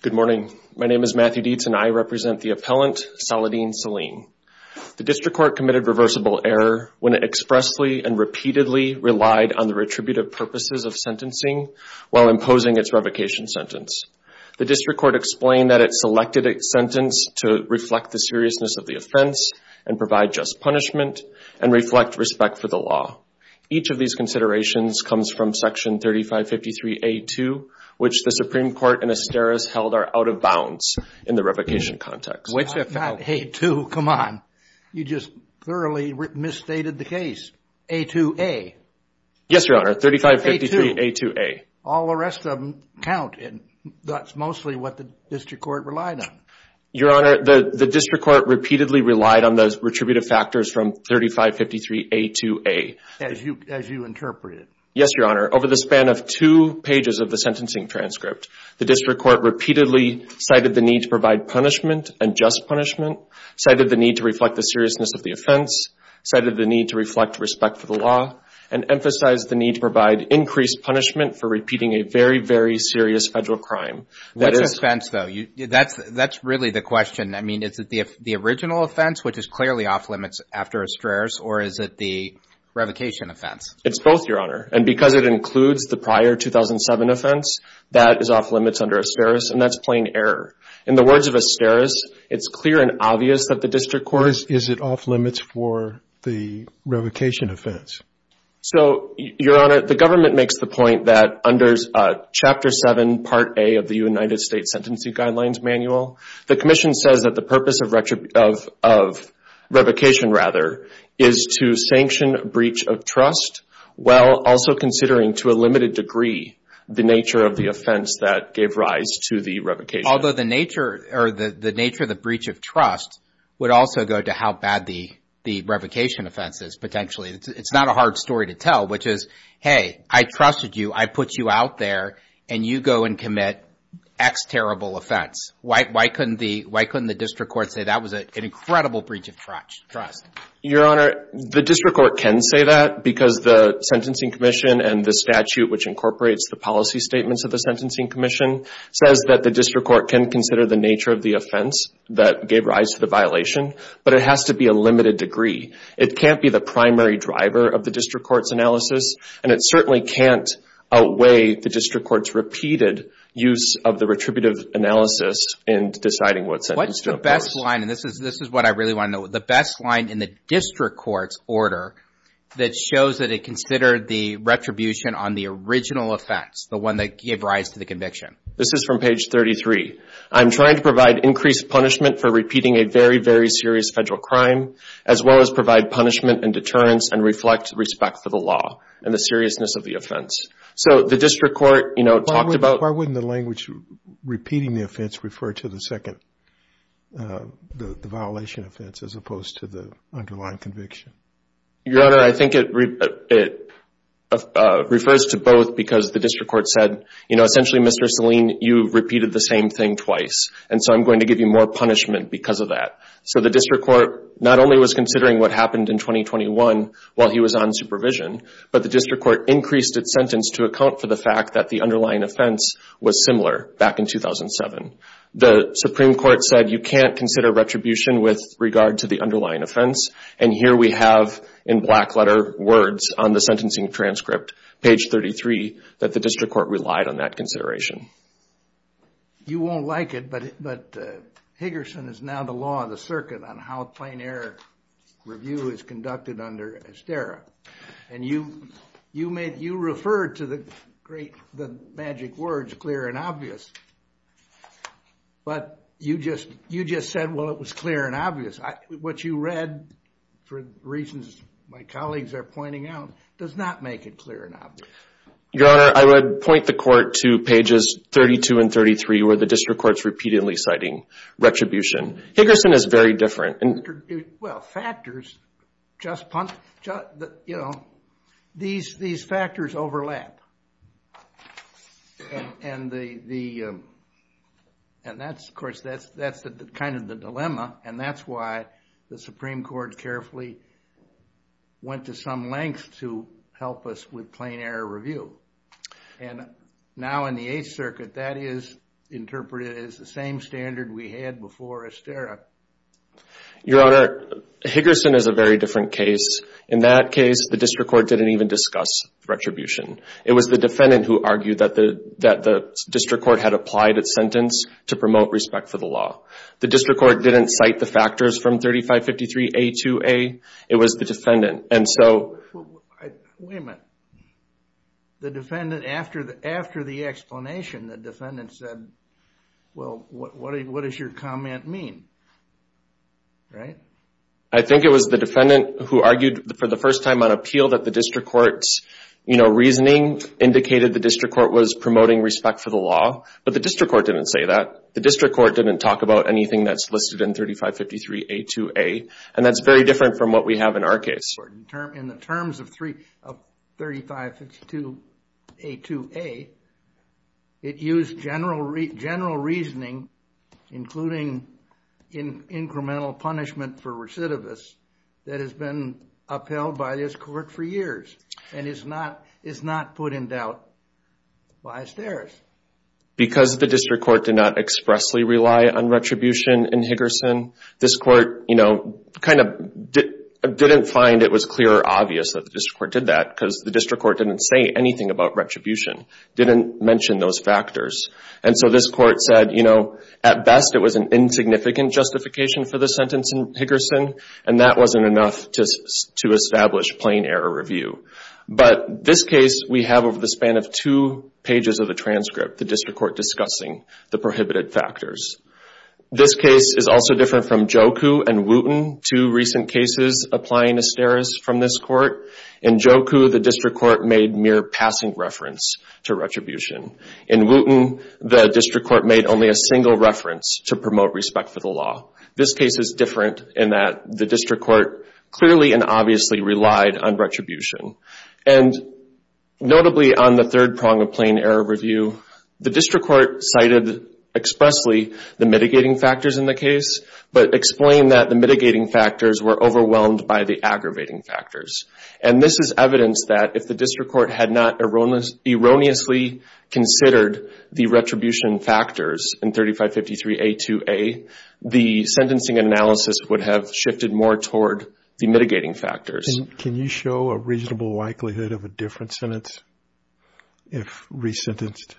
Good morning. My name is Matthew Dietz and I represent the appellant Saladean Saleen. The District Court committed reversible error when it expressly and repeatedly relied on the retributive purposes of sentencing while imposing its revocation sentence. The District Court explained that it selected its sentence to reflect the seriousness of the offense and provide just punishment and reflect respect for the law. Each of these considerations comes from section 3553A2, which the Supreme Court and Asteris held are out of bounds in the revocation context. Wait a second. Not A2, come on. You just thoroughly misstated the case. A2A. Yes, Your Honor. 3553A2A. All the rest of them count and that's mostly what the District Court relied on. Your Honor, the District Court repeatedly relied on the retributive factors from 3553A2A. As you interpreted. Yes, Your Honor. Over the span of two pages of the sentencing transcript, the District Court repeatedly cited the need to provide punishment and just punishment, cited the need to reflect the seriousness of the offense, cited the need to reflect respect for the law, and emphasized the need to provide increased punishment for repeating a very, very serious federal crime. What's the offense, though? That's really the question. I mean, is it the original offense, which is clearly off limits after Asteris, or is it the revocation offense? It's both, Your Honor. And because it includes the prior 2007 offense, that is off limits under Asteris, and that's plain error. In the words of Asteris, it's clear and obvious that the District Court... Is it off limits for the revocation offense? So Your Honor, the government makes the point that under Chapter 7, Part A of the United States Sentencing Guidelines Manual, the Commission says that the purpose of revocation rather is to sanction breach of trust while also considering to a limited degree the nature of the offense that gave rise to the revocation. Although the nature of the breach of trust would also go to how bad the revocation offense is potentially. It's not a hard story to tell, which is, hey, I trusted you. I put you out there, and you go and commit X terrible offense. Why couldn't the District Court say that was an incredible breach of trust? Your Honor, the District Court can say that because the Sentencing Commission and the statute which incorporates the policy statements of the Sentencing Commission says that the District Court can consider the nature of the offense that gave rise to the violation, but it has to be a limited degree. It can't be the primary driver of the District Court's analysis, and it certainly can't outweigh the District Court's repeated use of the retributive analysis in deciding what sentence to impose. What's the best line, and this is what I really want to know, the best line in the District Court's order that shows that it considered the retribution on the original offense, the one that gave rise to the conviction? This is from page 33. I'm trying to provide increased punishment for repeating a very, very serious federal crime, as well as provide punishment and deterrence and reflect respect for the law and the seriousness of the offense. So the District Court, you know, talked about... Why wouldn't the language repeating the offense refer to the second, the violation offense as opposed to the underlying conviction? Your Honor, I think it refers to both because the District Court said, you know, essentially, Mr. Selene, you repeated the same thing twice, and so I'm going to give you more punishment because of that. So the District Court not only was considering what happened in 2021 while he was on supervision, but the District Court increased its sentence to account for the fact that the underlying offense was similar back in 2007. The Supreme Court said you can't consider retribution with regard to the underlying offense, and here we have in black letter words on the sentencing transcript, page 33, that the District Court relied on that consideration. You won't like it, but Higgerson is now the law of the circuit on how a plain error review is conducted under Esterra, and you referred to the great, the magic words clear and obvious, but you just said, well, it was clear and obvious. What you read, for reasons my colleagues are pointing out, does not make it clear and obvious. Your Honor, I would point the court to pages 32 and 33, where the District Court's repeatedly citing retribution. Higgerson is very different. Well, factors just, you know, these factors overlap, and that's, of course, that's kind of the dilemma, and that's why the Supreme Court carefully went to some length to help us with plain error review, and now in the Eighth Circuit, that is interpreted as the same standard we had before Esterra. Your Honor, Higgerson is a very different case. In that case, the District Court didn't even discuss retribution. It was the defendant who argued that the District Court had applied its sentence to promote respect for the law. The District Court didn't cite the factors from 3553A to A. It was the defendant, and so... Wait a minute. The defendant, after the explanation, the defendant said, well, what does your comment mean, right? I think it was the defendant who argued for the first time on appeal that the District Court's, you know, reasoning indicated the District Court was promoting respect for the law, but the District Court didn't say that. The District Court didn't talk about anything that's listed in 3553A to A, and that's very different from what we have in our case. In the terms of 3553A to A, it used general reasoning, including incremental punishment for recidivists, that has been upheld by this Court for years, and is not put in doubt by Esterra. Because the District Court did not expressly rely on retribution in Higgerson, this Court, you know, kind of didn't find it was clear or obvious that the District Court did that, because the District Court didn't say anything about retribution, didn't mention those factors. And so this Court said, you know, at best it was an insignificant justification for the sentence in Higgerson, and that wasn't enough to establish plain error review. But this case we have over the span of two pages of the transcript, the District Court discussing the prohibited factors. This case is also different from Joku and Wooten, two recent cases applying Esterra's from this Court. In Joku, the District Court made mere passing reference to retribution. In Wooten, the District Court made only a single reference to promote respect for the This case is different in that the District Court clearly and obviously relied on retribution. And notably on the third prong of plain error review, the District Court cited expressly the mitigating factors in the case, but explained that the mitigating factors were overwhelmed by the aggravating factors. And this is evidence that if the District Court had not erroneously considered the retribution factors in 3553A2A, the sentencing analysis would have shifted more toward the mitigating factors. Can you show a reasonable likelihood of a different sentence if resentenced?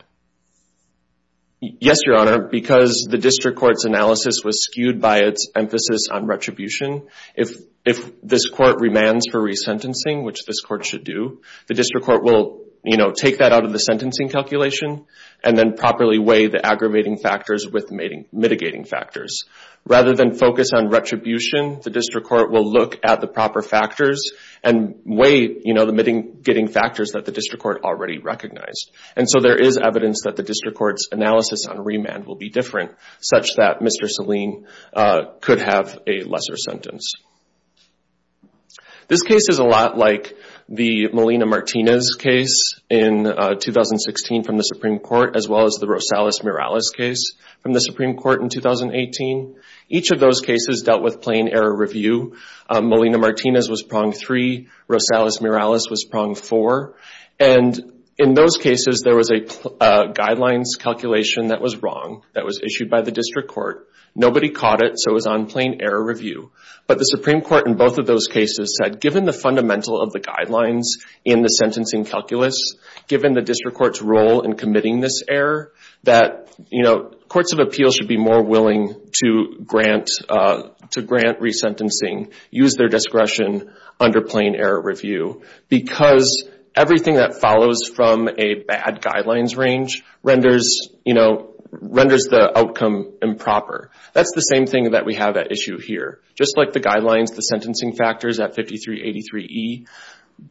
Yes, Your Honor, because the District Court's analysis was skewed by its emphasis on retribution, if this Court remands for resentencing, which this Court should do, the District Court will take that out of the sentencing calculation and then properly weigh the aggravating factors with mitigating factors. Rather than focus on retribution, the District Court will look at the proper factors and weigh the mitigating factors that the District Court already recognized. And so there is evidence that the District Court's analysis on remand will be different, such that Mr. Salim could have a lesser sentence. This case is a lot like the Molina-Martinez case in 2016 from the Supreme Court, as well as the Rosales-Morales case from the Supreme Court in 2018. Each of those cases dealt with plain error review. Molina-Martinez was prong three, Rosales-Morales was prong four. And in those cases, there was a guidelines calculation that was wrong, that was issued by the District Court. Nobody caught it, so it was on plain error review. But the Supreme Court in both of those cases said, given the fundamental of the guidelines in the sentencing calculus, given the District Court's role in committing this error, that courts of appeals should be more willing to grant resentencing, use their discretion under plain error review. Because everything that follows from a bad guidelines range renders the outcome improper. That's the same thing that we have at issue here. Just like the guidelines, the sentencing factors at 5383E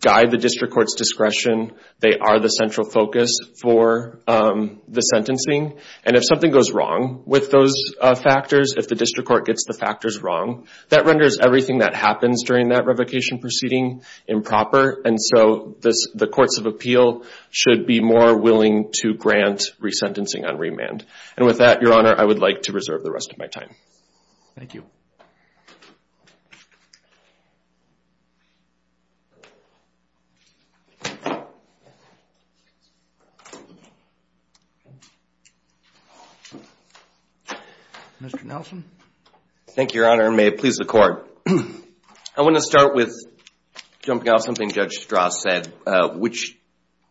guide the District Court's discretion. They are the central focus for the sentencing. And if something goes wrong with those factors, if the District Court gets the factors wrong, that renders everything that happens during that revocation proceeding improper. And so the courts of appeal should be more willing to grant resentencing on remand. And with that, Your Honor, I would like to reserve the rest of my time. Thank you. Mr. Nelson? Thank you, Your Honor, and may it please the Court. I want to start with jumping off something Judge Strauss said, which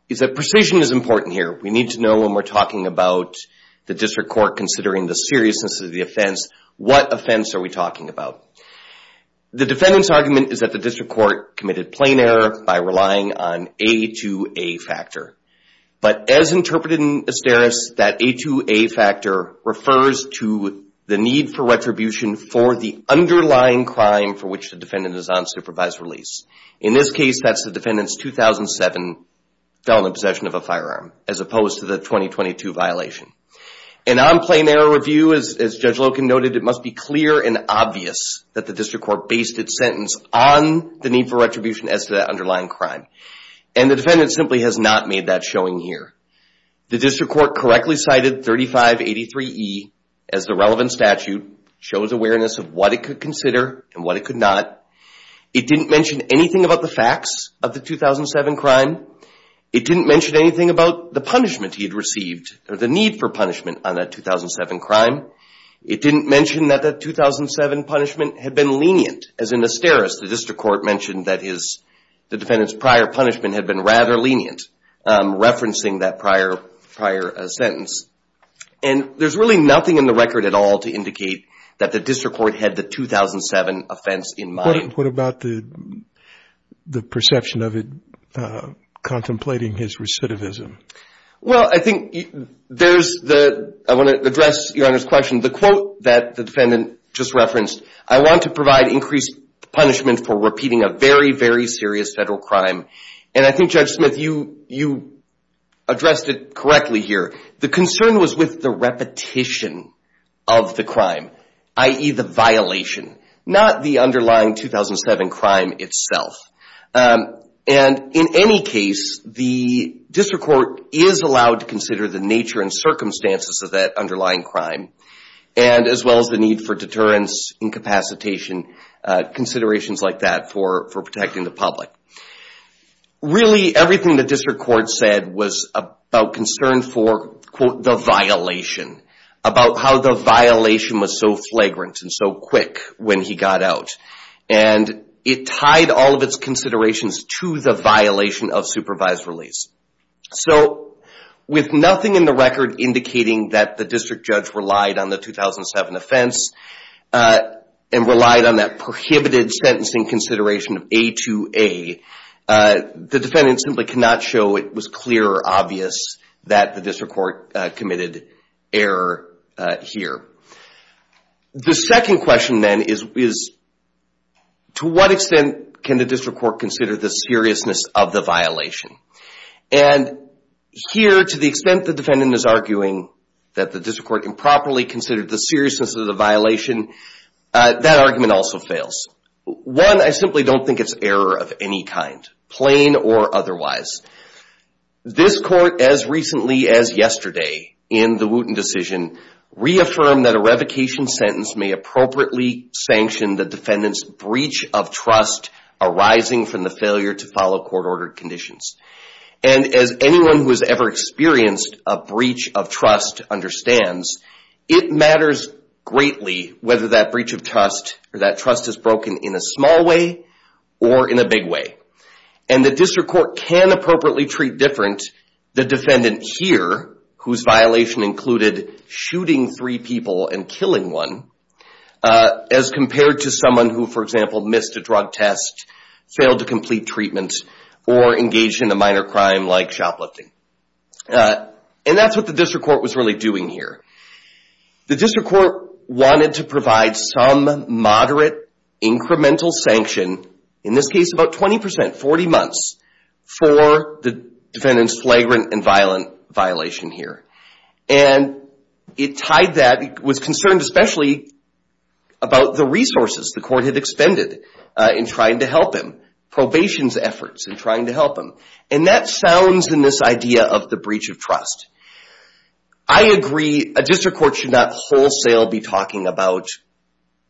is that precision is important here. We need to know when we're talking about the District Court considering the seriousness of the offense, what offense are we talking about? The defendant's argument is that the District Court committed plain error by relying on A2A factor. But as interpreted in Asteris, that A2A factor refers to the need for retribution for the underlying crime for which the defendant is on supervised release. In this case, that's the defendant's 2007 felony possession of a firearm, as opposed to the 2022 violation. And on plain error review, as Judge Loken noted, it must be clear and obvious that the District Court based its sentence on the need for retribution as to that underlying crime. And the defendant simply has not made that showing here. The District Court correctly cited 3583E as the relevant statute, shows awareness of what it could consider and what it could not. It didn't mention anything about the facts of the 2007 crime. It didn't mention anything about the punishment he had received, or the need for punishment on that 2007 crime. It didn't mention that the 2007 punishment had been lenient. As in Asteris, the District Court mentioned that the defendant's prior punishment had been rather lenient, referencing that prior sentence. And there's really nothing in the record at all to indicate that the District Court had the 2007 offense in mind. What about the perception of it contemplating his recidivism? Well, I think there's the... I want to address Your Honor's question. The quote that the defendant just referenced, I want to provide increased punishment for repeating a very, very serious federal crime. And I think Judge Smith, you addressed it correctly here. The concern was with the repetition of the crime, i.e. the violation, not the underlying 2007 crime itself. And in any case, the District Court is allowed to consider the nature and circumstances of that underlying crime, as well as the need for deterrence, incapacitation, considerations like that for protecting the public. Really everything the District Court said was about concern for, quote, the violation. About how the violation was so flagrant and so quick when he got out. And it tied all of its considerations to the violation of supervised release. So with nothing in the record indicating that the District Judge relied on the 2007 offense and relied on that prohibited sentencing consideration of A2A, the defendant simply could not show it was clear or obvious that the District Court committed error here. The second question then is, to what extent can the District Court consider the seriousness of the violation? And here, to the extent the defendant is arguing that the District Court improperly considered the seriousness of the violation, that argument also fails. One, I simply don't think it's error of any kind, plain or otherwise. This Court, as recently as yesterday in the Wooten decision, reaffirmed that a revocation sentence may appropriately sanction the defendant's breach of trust arising from the failure to follow court-ordered conditions. And as anyone who has ever experienced a breach of trust understands, it matters greatly whether that breach of trust or that trust is broken in a small way or in a big way. And the District Court can appropriately treat different the defendant here, whose violation included shooting three people and killing one, as compared to someone who, for example, missed a drug test, failed to complete treatment, or engaged in a minor crime like shoplifting. And that's what the District Court was really doing here. The District Court wanted to provide some moderate incremental sanction, in this case about 20%, 40 months, for the defendant's flagrant and violent violation here. And it tied that, it was concerned especially about the resources the Court had expended in trying to help him, probation's efforts in trying to help him. And that sounds in this idea of the breach of trust. I agree, a District Court should not wholesale be talking about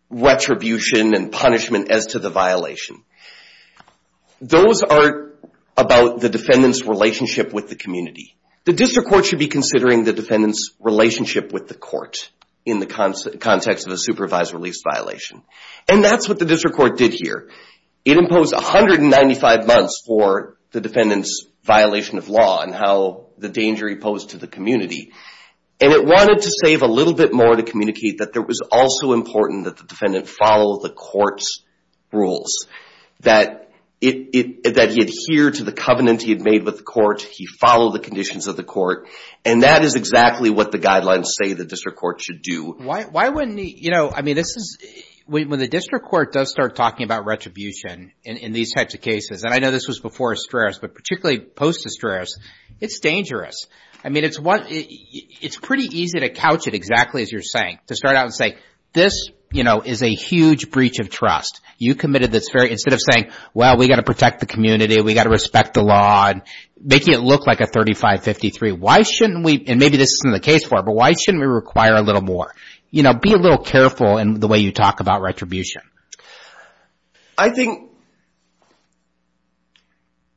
retribution and punishment as to the violation. Those are about the defendant's relationship with the community. The District Court should be considering the defendant's relationship with the court in the context of a supervised release violation. And that's what the District Court did here. It imposed 195 months for the defendant's violation of law and how the danger he posed to the community. And it wanted to save a little bit more to communicate that it was also important that the defendant follow the court's rules. That he adhere to the covenant he had made with the court. He follow the conditions of the court. And that is exactly what the guidelines say the District Court should do. Why wouldn't he, you know, I mean this is, when the District Court does start talking about retribution in these types of cases, and I know this was before Estreras, but particularly post-Estreras, it's dangerous. I mean it's pretty easy to couch it exactly as you're saying. To start out and say, this, you know, is a huge breach of trust. You committed this very, instead of saying, well we got to protect the community, we got to respect the law, and making it look like a 3553. Why shouldn't we, and maybe this isn't the case for it, but why shouldn't we require a little more? You know, be a little careful in the way you talk about retribution. I think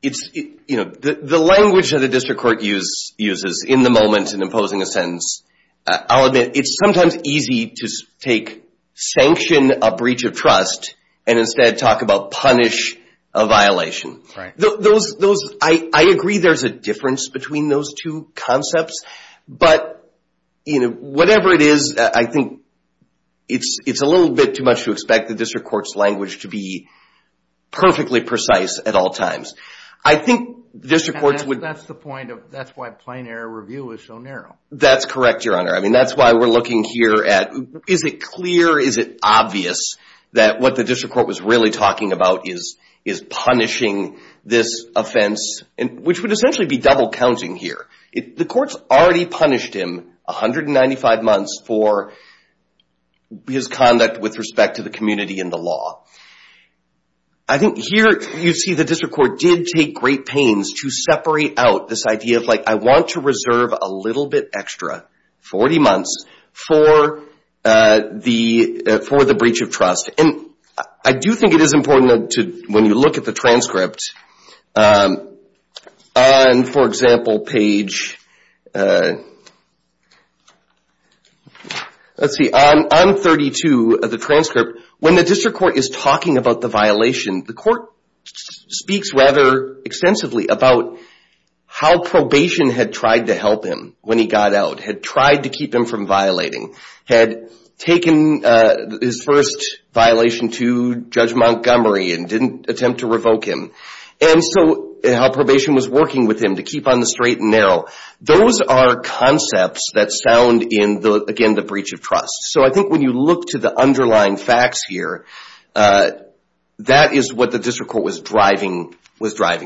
it's, you know, the language that the District Court uses in the moment in imposing a sentence. I'll admit, it's sometimes easy to take sanction a breach of trust and instead talk about punish a violation. Right. I agree there's a difference between those two concepts, but, you know, whatever it is, I think it's a little bit too much to expect the District Court's language to be perfectly precise at all times. I think the District Court's would... And that's the point of, that's why plain error review is so narrow. That's correct, Your Honor. I mean that's why we're looking here at, is it clear, is it obvious that what the District Court was really talking about is punishing this offense, which would essentially be double counting here. The Court's already punished him 195 months for his conduct with respect to the community and the law. I think here you see the District Court did take great pains to separate out this idea of like, I want to reserve a little bit extra, 40 months, for the breach of trust. And I do think it is important to, when you look at the transcript, on, for example, page... Let's see, on 32 of the transcript, when the District Court is talking about the violation, the Court speaks rather extensively about how probation had tried to help him when he got out, had tried to keep him from violating. Had taken his first violation to Judge Montgomery and didn't attempt to revoke him. And so how probation was working with him to keep on the straight and narrow. Those are concepts that sound in, again, the breach of trust. So I think when you look to the underlying facts here, that is what the District Court was driving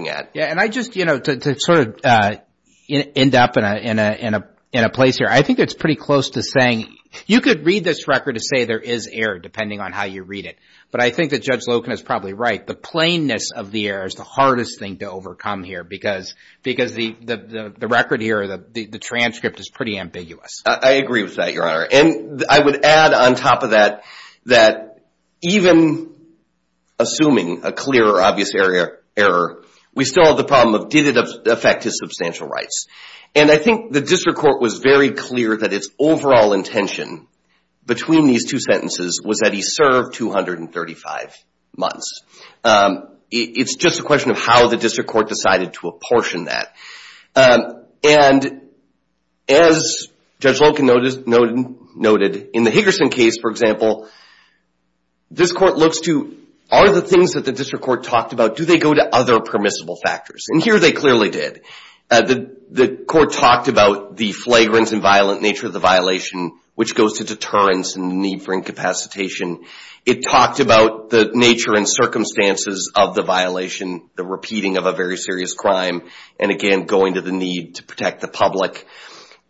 at. And I just, you know, to sort of end up in a place here, I think it's pretty close to saying, you could read this record to say there is error depending on how you read it. But I think that Judge Loken is probably right. The plainness of the error is the hardest thing to overcome here because the record here, the transcript is pretty ambiguous. I agree with that, Your Honor. And I would add on top of that, that even assuming a clear or obvious error, we still have the problem of did it affect his substantial rights. And I think the District Court was very clear that its overall intention between these two sentences was that he served 235 months. It's just a question of how the District Court decided to apportion that. And as Judge Loken noted, in the Higgerson case, for example, this Court looks to are the things that the District Court talked about, do they go to other permissible factors? And here they clearly did. The Court talked about the flagrance and violent nature of the violation, which goes to deterrence and the need for incapacitation. It talked about the nature and circumstances of the violation, the repeating of a very serious crime, and again, going to the need to protect the public.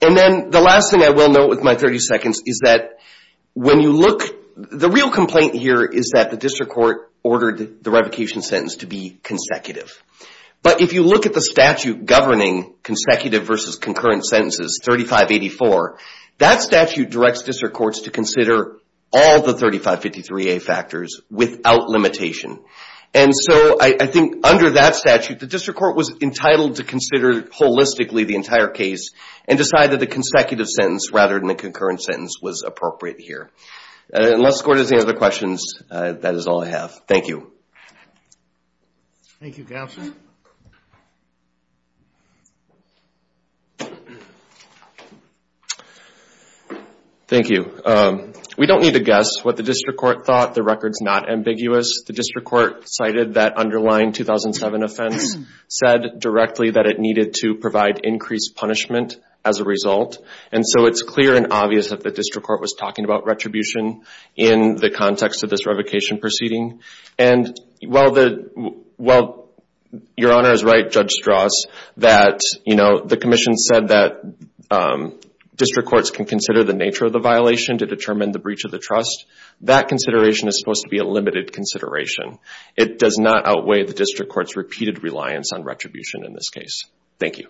And then the last thing I will note with my 30 seconds is that when you look, the real complaint here is that the District Court ordered the revocation sentence to be consecutive. But if you look at the statute governing consecutive versus concurrent sentences, 3584, that statute directs District Courts to consider all the 3553A factors without limitation. And so I think under that statute, the District Court was entitled to consider holistically the entire case and decide that the consecutive sentence rather than the concurrent sentence was appropriate here. Unless the Court has any other questions, that is all I have. Thank you. Thank you, Counselor. Thank you. We don't need to guess what the District Court thought. The record is not ambiguous. The District Court cited that underlying 2007 offense, said directly that it needed to provide increased punishment as a result. And so it's clear and obvious that the District Court was talking about retribution in the context of this revocation proceeding. And while Your Honor is right, Judge Strauss, that the Commission said that District Courts can consider the nature of the violation to determine the breach of the trust, that consideration is supposed to be a limited consideration. It does not outweigh the District Court's repeated reliance on retribution in this case. Thank you.